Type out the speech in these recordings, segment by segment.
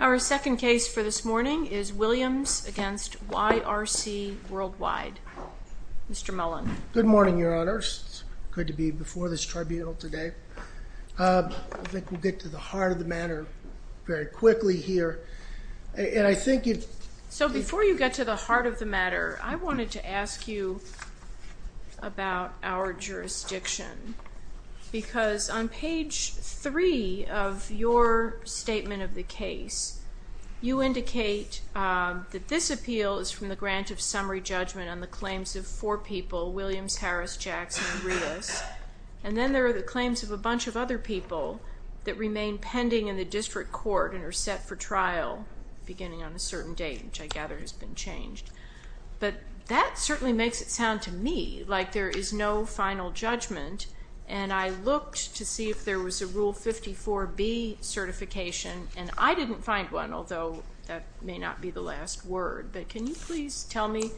Our second case for this morning is Williams v. YRC Worldwide. Mr. Mullen. Good morning, Your Honor. It's good to be before this tribunal today. I think we'll get to the heart of the matter very quickly here. And I think if... So before you get to the heart of the matter, I wanted to ask you about our jurisdiction because on page three of your statement of the case, you indicate that this appeal is from the grant of summary judgment on the claims of four people, Williams, Harris, Jackson, and Rios. And then there are the claims of a bunch of other people that remain pending in the district court and are set for trial beginning on a certain date, which I gather has been changed. But that certainly makes it sound to me like there is no final judgment. And I looked to see if there was a Rule 54B certification, and I didn't find one, although that may not be the last word. But can you please tell me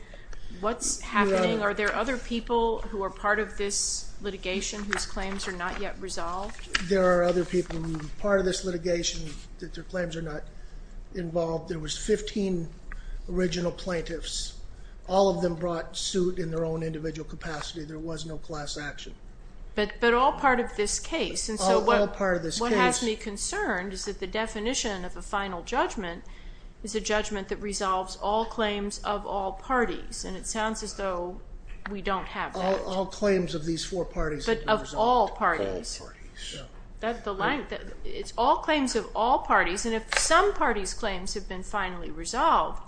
what's happening? Are there other people who are part of this litigation whose claims are not yet resolved? There are other people who are part of this litigation that their claims are not involved. There was 15 original plaintiffs. All of them brought suit in their own individual capacity. There was no class action. But all part of this case. All part of this case. And so what has me concerned is that the definition of a final judgment is a judgment that resolves all claims of all parties, and it sounds as though we don't have that. All claims of these four parties have been resolved. But of all parties. All parties. Yeah. That's the line. It's all claims of all parties, and if some parties' claims have been finally resolved,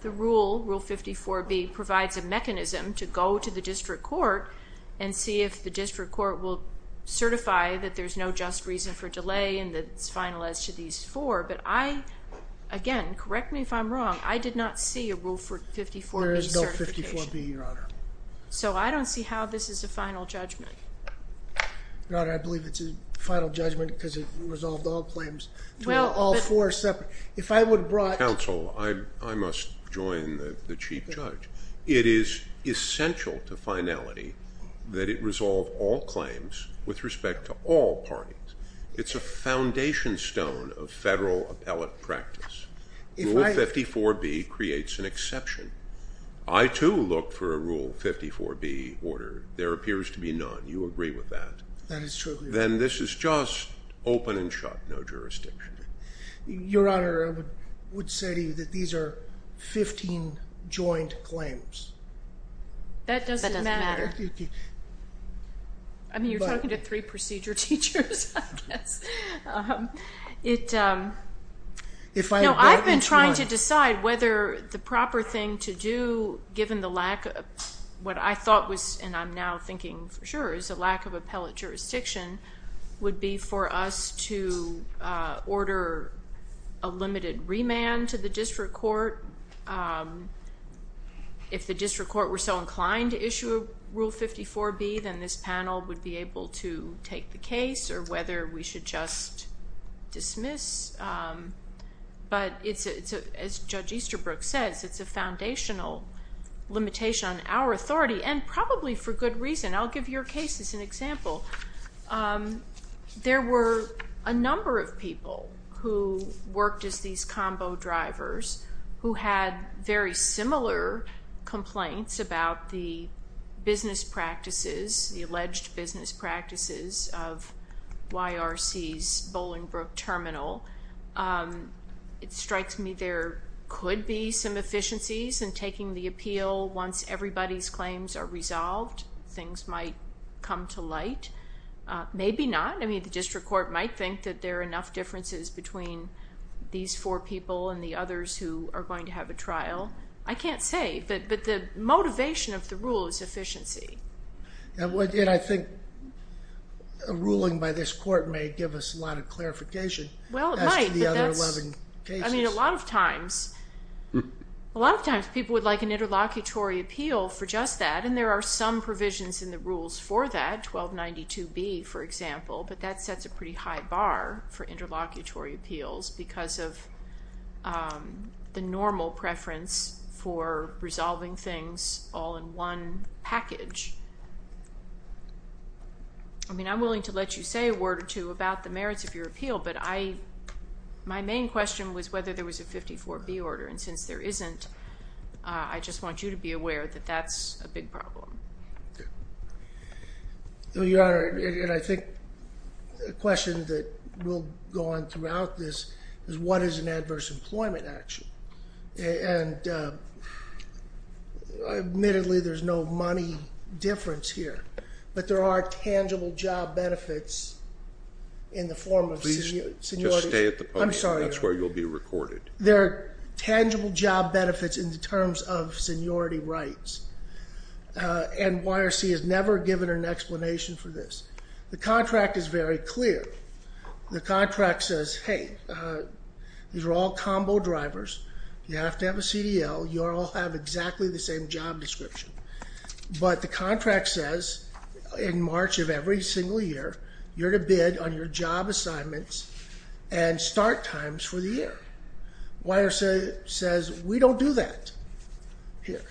the rule, Rule 54B, provides a mechanism to go to the district court and see if the district court will certify that there's no just reason for delay and that it's final as to these four. But I, again, correct me if I'm wrong. I did not see a Rule 54B certification. There is no 54B, Your Honor. So I don't see how this is a final judgment. Your Honor, I believe it's a final judgment because it resolved all claims to all four separate. If I would brought... Counsel, I must join the Chief Judge. It is essential to finality that it resolve all claims with respect to all parties. It's a foundation stone of federal appellate practice. If I... Rule 54B creates an exception. I, too, look for a Rule 54B order. There appears to be none. You agree with that? That is truly right. Then this is just open and shut, no jurisdiction. Your Honor, I would say to you that these are 15 joint claims. That doesn't matter. That doesn't matter. I mean, you're talking to three procedure teachers, I guess. It... No, I've been trying to decide whether the proper thing to do, given the lack of... What I thought was, and I'm now thinking for sure, is a lack of appellate jurisdiction would be for us to order a limited remand to the district court. If the district court were so inclined to issue a Rule 54B, then this panel would be just dismiss. But it's a... As Judge Easterbrook says, it's a foundational limitation on our authority and probably for good reason. I'll give your case as an example. There were a number of people who worked as these combo drivers who had very similar complaints about the business practices, the alleged business practices of YRC's Bolingbrook Terminal. It strikes me there could be some efficiencies in taking the appeal once everybody's claims are resolved. Things might come to light. Maybe not. I mean, the district court might think that there are enough differences between these four people and the others who are going to have a trial. I can't say. But the motivation of the rule is efficiency. I think a ruling by this court may give us a lot of clarification as to the other 11 Well, it might, but that's... I mean, a lot of times people would like an interlocutory appeal for just that, and there are some provisions in the rules for that, 1292B, for example, but that sets a pretty high bar for interlocutory appeals because of the normal preference for resolving things all in one package. I mean, I'm willing to let you say a word or two about the merits of your appeal, but my main question was whether there was a 54B order, and since there isn't, I just want you to be aware that that's a big problem. Your Honor, and I think the question that will go on throughout this is what is an adverse employment action? And admittedly, there's no money difference here, but there are tangible job benefits in the form of seniority... Please just stay at the podium. I'm sorry, Your Honor. That's where you'll be recorded. There are tangible job benefits in the terms of seniority rights, and YRC has never given an explanation for this. The contract is very clear. The contract says, hey, these are all combo drivers. You have to have a CDL. You all have exactly the same job description. But the contract says in March of every single year, you're to bid on your job assignments and start times for the year. YRC says, we don't do that here.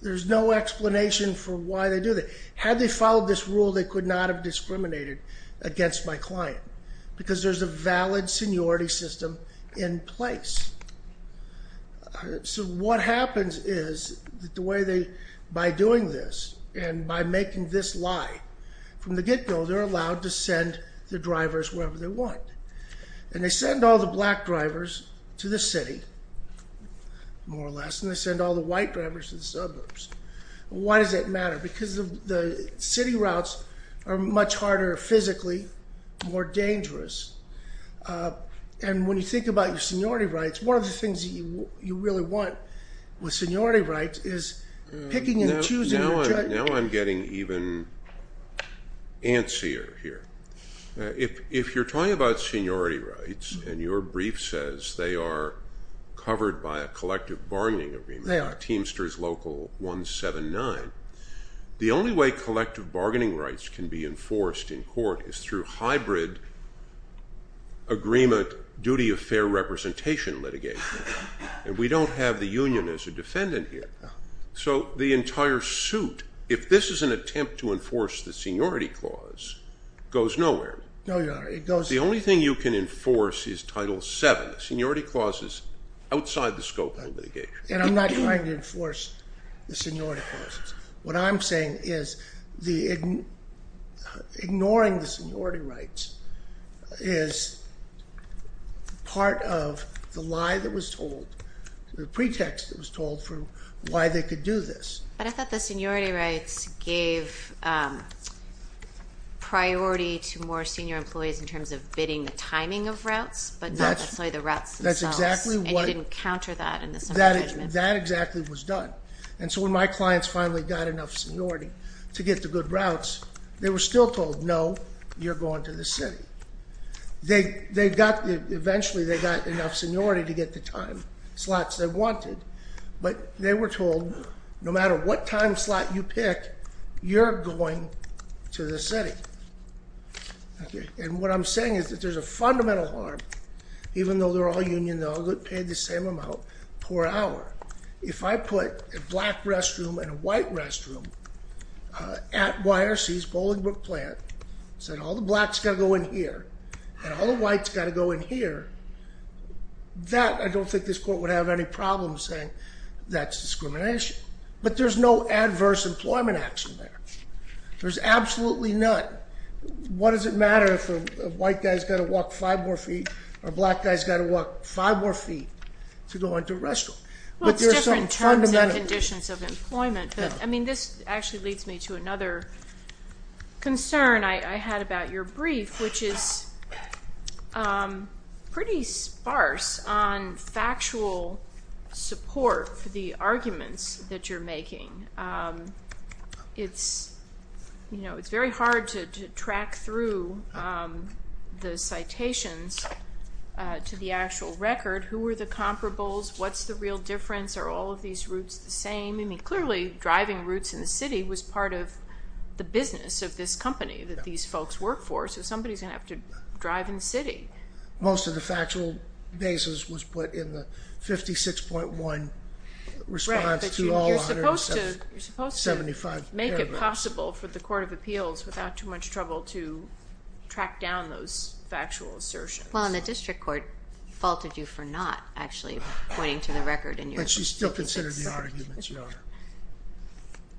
There's no explanation for why they do that. Had they followed this rule, they could not have discriminated against my client because there's a valid seniority system in place. So what happens is that by doing this and by making this lie from the get-go, they're going to send the drivers wherever they want. And they send all the black drivers to the city, more or less, and they send all the white drivers to the suburbs. Why does that matter? Because the city routes are much harder physically, more dangerous. And when you think about your seniority rights, one of the things that you really want with seniority rights is picking and choosing your... Now I'm getting even antsier here. If you're talking about seniority rights and your brief says they are covered by a collective bargaining agreement, Teamsters Local 179, the only way collective bargaining rights can be enforced in court is through hybrid agreement duty of fair representation litigation. And we don't have the union as a defendant here. So the entire suit, if this is an attempt to enforce the seniority clause, goes nowhere. No, Your Honor. It goes... The only thing you can enforce is Title VII. Seniority clause is outside the scope of litigation. And I'm not trying to enforce the seniority clauses. What I'm saying is ignoring the seniority rights is part of the lie that was told, the why they could do this. But I thought the seniority rights gave priority to more senior employees in terms of bidding the timing of routes, but not necessarily the routes themselves. That's exactly what... And you didn't counter that in the summary judgment. That exactly was done. And so when my clients finally got enough seniority to get the good routes, they were still told, no, you're going to the city. Eventually they got enough seniority to get the time slots they wanted. But they were told, no matter what time slot you pick, you're going to the city. And what I'm saying is that there's a fundamental harm, even though they're all union, they all get paid the same amount per hour. If I put a black restroom and a white restroom at YRC's Bolingbrook plant, said all the blacks got to go in here, and all the whites got to go in here, that I don't think this court would have any problem saying that's discrimination. But there's no adverse employment action there. There's absolutely none. What does it matter if a white guy's got to walk five more feet, or a black guy's got to walk five more feet to go into a restroom? Well, it's different terms and conditions of employment, but I mean, this actually leads me to another concern I had about your brief, which is pretty sparse on factual support for the arguments that you're making. It's very hard to track through the citations to the actual record. Who were the comparables? What's the real difference? Are all of these routes the same? I mean, clearly, driving routes in the city was part of the business of this company that these folks work for, so somebody's going to have to drive in the city. Most of the factual basis was put in the 56.1 response to all 175 paragraphs. Right, but you're supposed to make it possible for the Court of Appeals, without too much trouble, to track down those factual assertions. Well, and the district court faulted you for not actually pointing to the record in your 56.1. She still considered the arguments, Your Honor.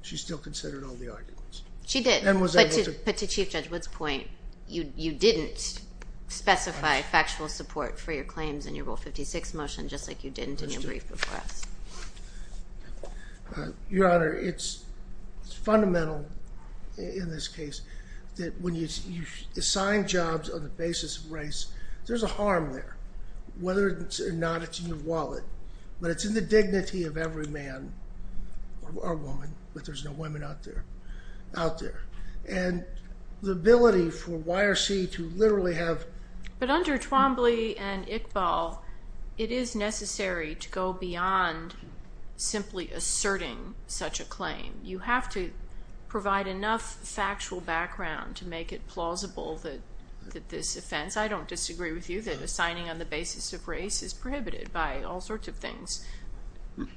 She still considered all the arguments. She did. But to Chief Judge Wood's point, you didn't specify factual support for your claims in your Rule 56 motion, just like you didn't in your brief before us. Your Honor, it's fundamental in this case that when you assign jobs on the basis of race, there's a harm there, whether or not it's in your wallet, but it's in the dignity of every man or woman, but there's no women out there. And the ability for YRC to literally have... But under Twombly and Iqbal, it is necessary to go beyond simply asserting such a claim. You have to provide enough factual background to make it plausible that this offense, I don't disagree with you, that assigning on the basis of race is prohibited by all sorts of things,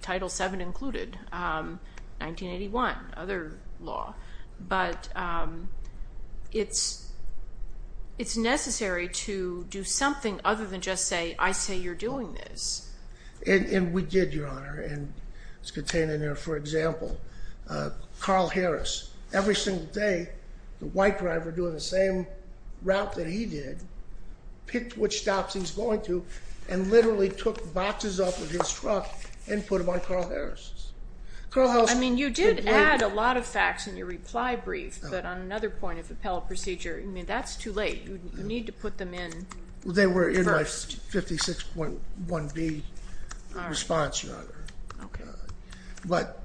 Title VII included, 1981, other law, but it's necessary to do something other than just say, I say you're doing this. And we did, Your Honor, and it's contained in there, for example, Carl Harris. Every single day, the white driver doing the same route that he did, picked which stops he's going to, and literally took boxes off of his truck and put them on Carl Harris. Carl Harris... I mean, you did add a lot of facts in your reply brief, but on another point of appellate procedure, I mean, that's too late. You need to put them in first. They were in my 56.1B response, Your Honor. But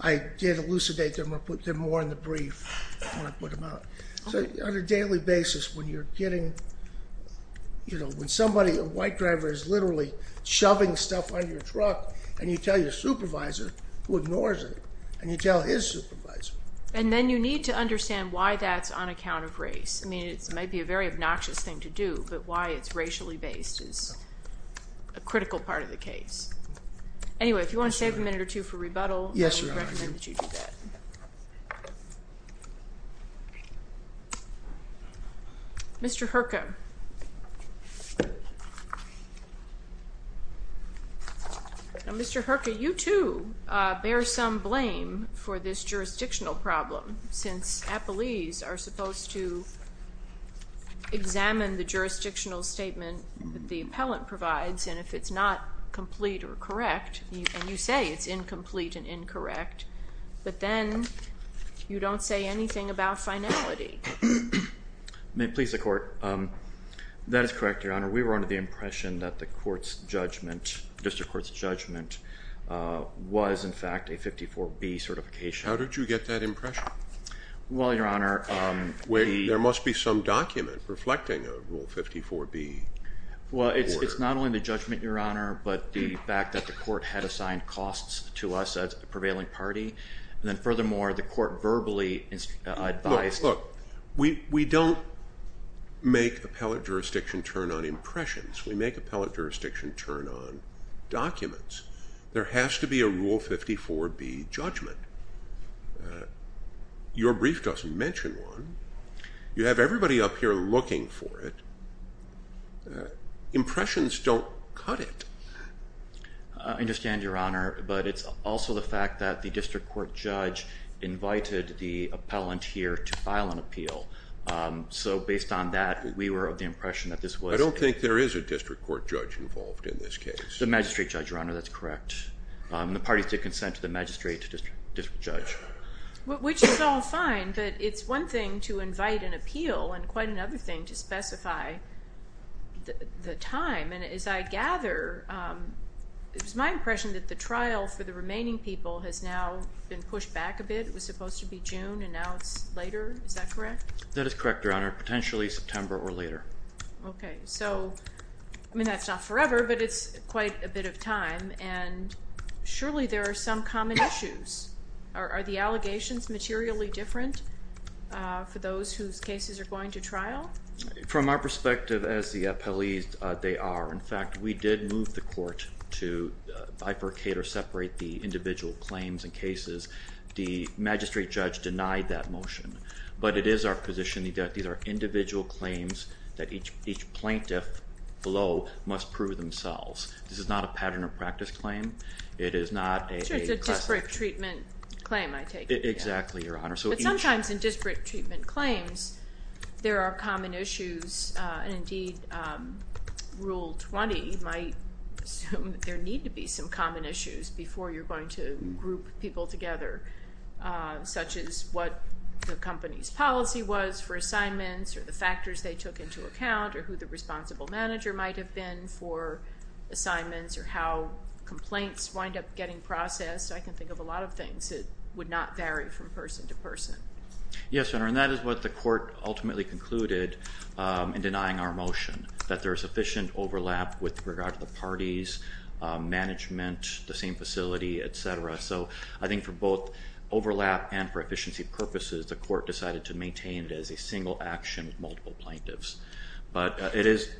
I did elucidate them or put them more in the brief when I put them out. So on a daily basis, when you're getting, you know, when somebody, a white driver is literally shoving stuff on your truck, and you tell your supervisor who ignores it, and you tell his supervisor. And then you need to understand why that's on account of race. I mean, it might be a very obnoxious thing to do, but why it's racially based is a critical part of the case. Anyway, if you want to save a minute or two for rebuttal, I would recommend that you do that. Mr. Herka, Mr. Herka, you, too, bear some blame for this jurisdictional problem, since appellees are supposed to examine the jurisdictional statement the appellant provides, and if it's not complete or correct, and you say it's incomplete and incorrect, but then you don't say anything about finality. May it please the Court? That is correct, Your Honor. We were under the impression that the court's judgment, district court's judgment, was, in fact, a 54B certification. How did you get that impression? Well, Your Honor, the... There must be some document reflecting a Rule 54B. Well, it's not only the judgment, Your Honor, but the fact that the court had assigned costs to us as the prevailing party. And then, furthermore, the court verbally advised... Look, look, we don't make appellate jurisdiction turn on impressions. We make appellate jurisdiction turn on documents. There has to be a Rule 54B judgment. Your brief doesn't mention one. You have everybody up here looking for it. Impressions don't cut it. I understand, Your Honor, but it's also the fact that the district court judge invited the appellant here to file an appeal. So based on that, we were of the impression that this was... I don't think there is a district court judge involved in this case. The magistrate judge, Your Honor. That's correct. The parties did consent to the magistrate district judge. Which is all fine, but it's one thing to invite an appeal and quite another thing to specify the time. And as I gather, it was my impression that the trial for the remaining people has now been pushed back a bit. It was supposed to be June and now it's later. Is that correct? That is correct, Your Honor. Potentially September or later. Okay. So, I mean, that's not forever, but it's quite a bit of time. And surely there are some common issues. Are the allegations materially different for those whose cases are going to trial? From our perspective as the appellees, they are. In fact, we did move the court to bifurcate or separate the individual claims and cases. The magistrate judge denied that motion. But it is our position that these are individual claims that each plaintiff below must prove themselves. This is not a pattern of practice claim. It is not a... Sure, it's a disparate treatment claim, I take it. Exactly, Your Honor. But sometimes in disparate treatment claims, there are common issues. And indeed, Rule 20 might assume that there need to be some common issues before you're going to group people together, such as what the company's policy was for assignments or the factors they took into account or who the responsible manager might have been for assignments or how complaints wind up getting processed. I can think of a lot of things that would not vary from person to person. Yes, Your Honor. And that is what the court ultimately concluded in denying our motion, that there is sufficient overlap with regard to the parties, management, the same facility, et cetera. So I think for both overlap and for efficiency purposes, the court decided to maintain it as a single action with multiple plaintiffs. But it is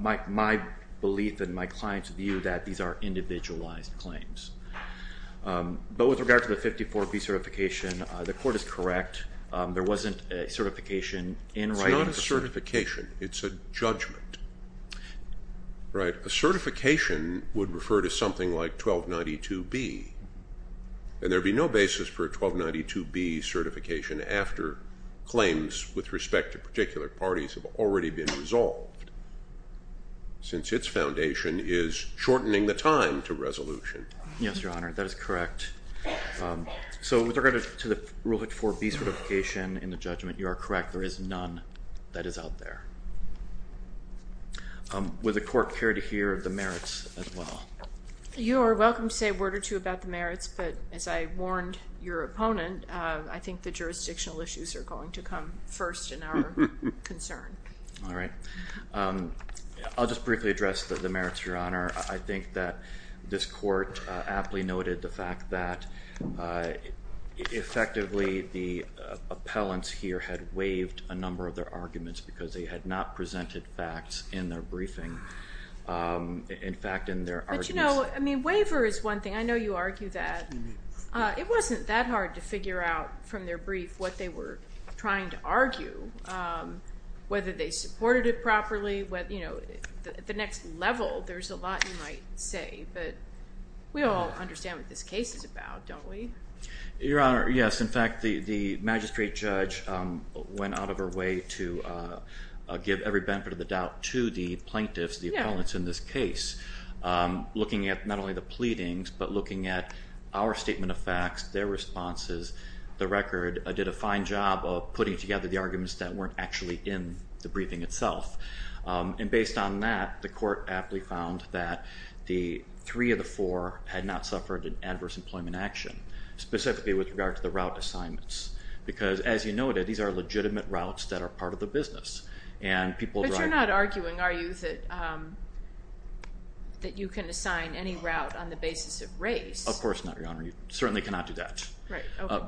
my belief and my client's view that these are individualized claims. But with regard to the 54B certification, the court is correct. There wasn't a certification in writing. It's not a certification. It's a judgment. Right? A certification would refer to something like 1292B, and there would be no basis for a 1292B certification after claims with respect to particular parties have already been resolved, since its foundation is shortening the time to resolution. Yes, Your Honor. That is correct. So with regard to the rule 54B certification in the judgment, you are correct. There is none that is out there. Would the court care to hear of the merits as well? You are welcome to say a word or two about the merits, but as I warned your opponent, I think the jurisdictional issues are going to come first in our concern. All right. I'll just briefly address the merits, Your Honor. I think that this court aptly noted the fact that effectively the appellants here had waived a number of their arguments because they had not presented facts in their briefing. In fact, in their arguments— But you know, I mean, waiver is one thing. I know you argue that. It wasn't that hard to figure out from their brief what they were trying to argue, whether they supported it properly, you know, at the next level, there's a lot you might say, but we all understand what this case is about, don't we? Your Honor, yes. In fact, the magistrate judge went out of her way to give every benefit of the doubt to the plaintiffs, the appellants in this case, looking at not only the pleadings, but looking at our statement of facts, their responses, the record, did a fine job of putting together the arguments that weren't actually in the briefing itself. And based on that, the court aptly found that the three of the four had not suffered an adverse employment action, specifically with regard to the route assignments. Because as you noted, these are legitimate routes that are part of the business, and people drive— Race. Of course not, Your Honor. You certainly cannot do that. Right. Okay.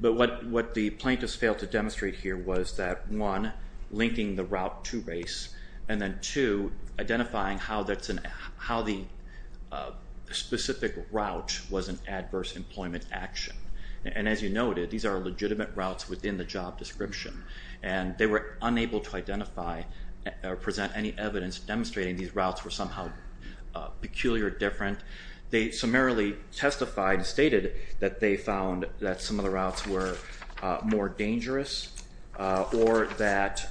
But what the plaintiffs failed to demonstrate here was that, one, linking the route to race, and then two, identifying how the specific route was an adverse employment action. And as you noted, these are legitimate routes within the job description, and they were unable to identify or present any evidence demonstrating these routes were somehow peculiar or different. They summarily testified and stated that they found that some of the routes were more dangerous or that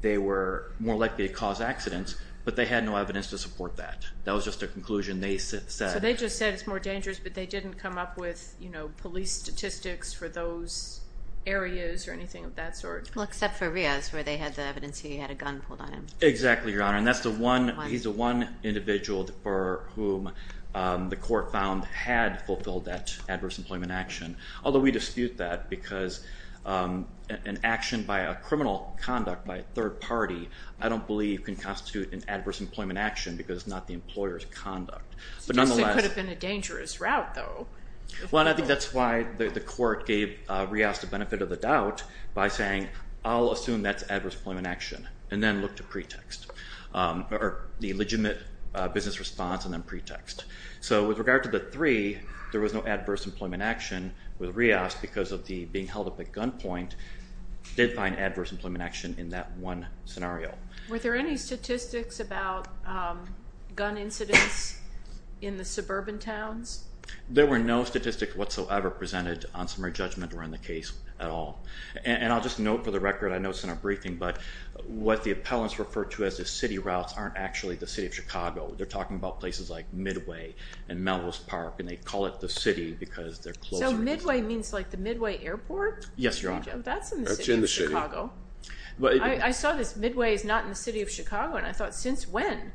they were more likely to cause accidents, but they had no evidence to support that. That was just their conclusion. They said— So they just said it's more dangerous, but they didn't come up with police statistics for those areas or anything of that sort? Well, except for Ria's, where they had the evidence he had a gun pulled on him. Exactly, Your Honor. And that's the one—he's the one individual for whom the court found had fulfilled that adverse employment action, although we dispute that because an action by a criminal conduct by a third party, I don't believe can constitute an adverse employment action because it's not the employer's conduct. But nonetheless— It could have been a dangerous route, though. Well, and I think that's why the court gave Ria's the benefit of the doubt by saying, I'll assume that's adverse employment action, and then look to pretext, or the legitimate business response and then pretext. So with regard to the three, there was no adverse employment action with Ria's because of the being held at the gunpoint did find adverse employment action in that one scenario. Were there any statistics about gun incidents in the suburban towns? There were no statistics whatsoever presented on summary judgment or in the case at all. And I'll just note for the record, I know it's in our briefing, but what the appellants refer to as the city routes aren't actually the city of Chicago. They're talking about places like Midway and Malvos Park, and they call it the city because they're closer. So Midway means like the Midway Airport? Yes, Your Honor. That's in the city of Chicago. That's in the city. I saw this, Midway is not in the city of Chicago, and I thought, since when?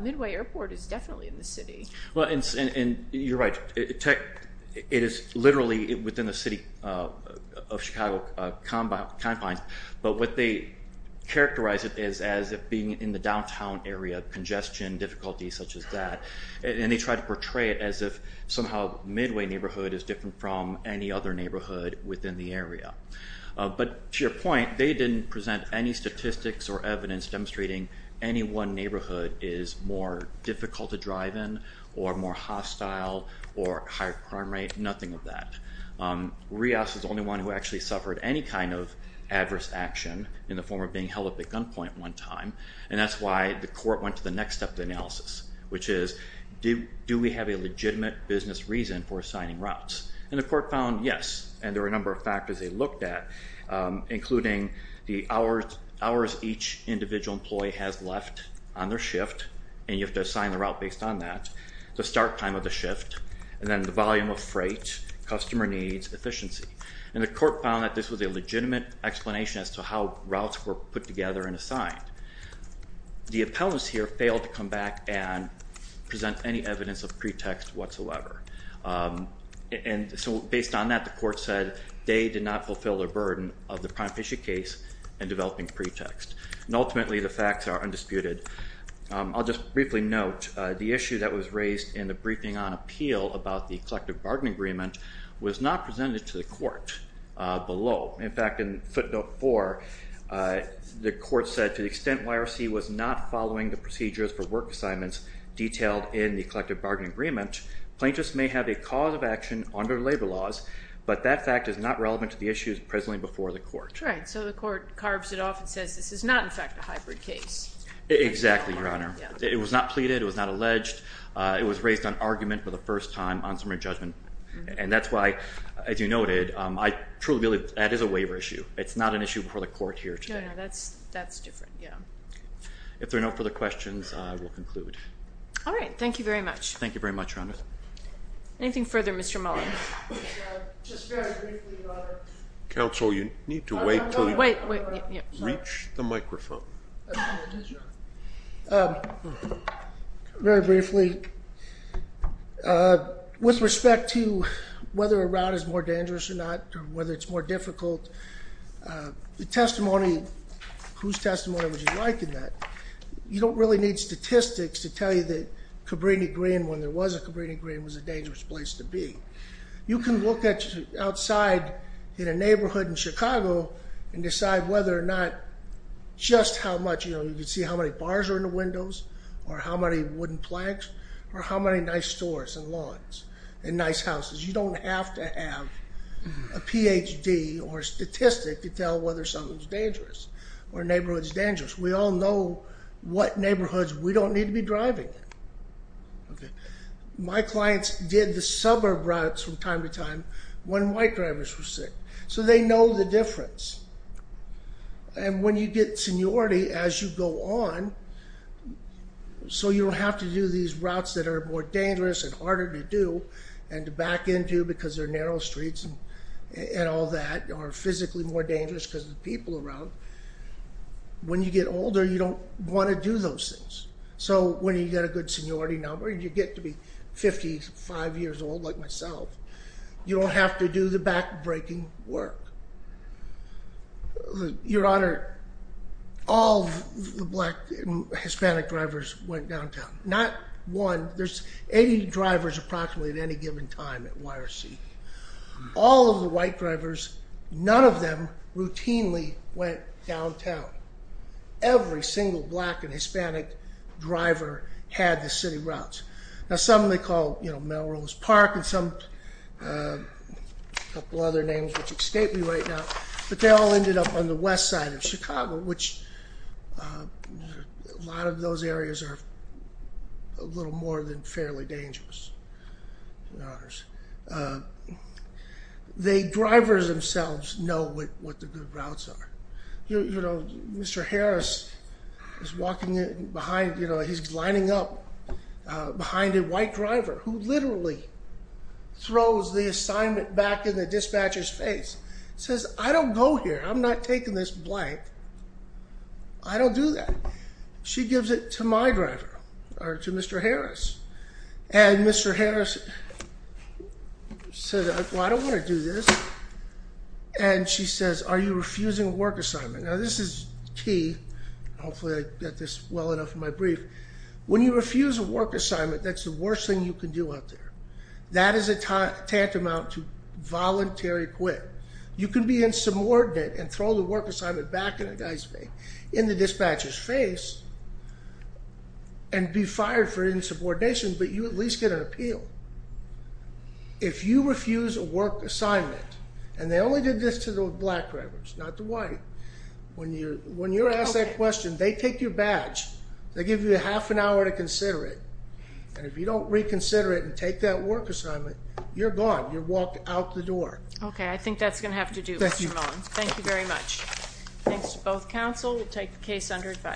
Midway Airport is definitely in the city. Well, and you're right. It is literally within the city of Chicago confines, but what they characterize it as as being in the downtown area, congestion, difficulties such as that, and they try to portray it as if somehow Midway neighborhood is different from any other neighborhood within the area. But to your point, they didn't present any statistics or evidence demonstrating any one to drive in, or more hostile, or higher crime rate, nothing of that. Rios is the only one who actually suffered any kind of adverse action in the form of being held at gunpoint one time, and that's why the court went to the next step of analysis, which is, do we have a legitimate business reason for assigning routes? And the court found yes, and there were a number of factors they looked at, including the hours each individual employee has left on their shift, and you have to assign the hours based on that, the start time of the shift, and then the volume of freight, customer needs, efficiency. And the court found that this was a legitimate explanation as to how routes were put together and assigned. The appellants here failed to come back and present any evidence of pretext whatsoever. And so based on that, the court said they did not fulfill their burden of the Prime Fisher case in developing pretext, and ultimately the facts are undisputed. I'll just briefly note, the issue that was raised in the briefing on appeal about the collective bargain agreement was not presented to the court below. In fact, in footnote four, the court said, to the extent YRC was not following the procedures for work assignments detailed in the collective bargain agreement, plaintiffs may have a cause of action under labor laws, but that fact is not relevant to the issues presently before the court. Right, so the court carves it off and says this is not, in fact, a hybrid case. Exactly, Your Honor. It was not pleaded. It was not alleged. It was raised on argument for the first time on summary judgment. And that's why, as you noted, I truly believe that is a waiver issue. It's not an issue before the court here today. No, no, that's different. Yeah. If there are no further questions, I will conclude. All right. Thank you very much. Thank you very much, Your Honor. Anything further, Mr. Muller? Just very briefly, Your Honor. Counsel, you need to wait until you reach the microphone. Absolutely, Your Honor. Very briefly, with respect to whether a route is more dangerous or not, or whether it's more difficult, the testimony, whose testimony would you like in that? You don't really need statistics to tell you that Cabrini-Green, when there was a Cabrini-Green, was a dangerous place to be. You can look outside in a neighborhood in Chicago and decide whether or not just how much, you know, you can see how many bars are in the windows, or how many wooden planks, or how many nice stores and lawns and nice houses. You don't have to have a Ph.D. or statistic to tell whether something is dangerous or a neighborhood is dangerous. We all know what neighborhoods we don't need to be driving in. Okay. My clients did the suburb routes from time to time when white drivers were sick. So they know the difference. And when you get seniority, as you go on, so you don't have to do these routes that are more dangerous and harder to do and to back into because they're narrow streets and all that, or physically more dangerous because of the people around. When you get older, you don't want to do those things. So when you get a good seniority number, you get to be 55 years old like myself, you don't have to do the back-breaking work. Your Honor, all the black and Hispanic drivers went downtown. Not one. There's 80 drivers approximately at any given time at YRC. All of the white drivers, none of them routinely went downtown. Every single black and Hispanic driver had the city routes. Now some they call Melrose Park and some, a couple other names which escape me right now, but they all ended up on the west side of Chicago, which a lot of those areas are a little more than fairly dangerous. Your Honors. The drivers themselves know what the good routes are. You know, Mr. Harris is walking behind, you know, he's lining up behind a white driver who literally throws the assignment back in the dispatcher's face. Says, I don't go here, I'm not taking this blank. I don't do that. She gives it to my driver, or to Mr. Harris. And Mr. Harris says, well, I don't want to do this. And she says, are you refusing a work assignment? Now this is key. Hopefully I got this well enough in my brief. When you refuse a work assignment, that's the worst thing you can do out there. That is a tantamount to voluntary quit. You can be insubordinate and throw the work assignment back in the dispatcher's face and be fired for insubordination, but you at least get an appeal. If you refuse a work assignment, and they only did this to the black drivers, not the white. When you're asked that question, they take your badge. They give you a half an hour to consider it. And if you don't reconsider it and take that work assignment, you're gone. You're walked out the door. Okay, I think that's going to have to do, Mr. Mullins. Thank you. Thank you very much. Thanks to both counsel. We'll take the case under advisement.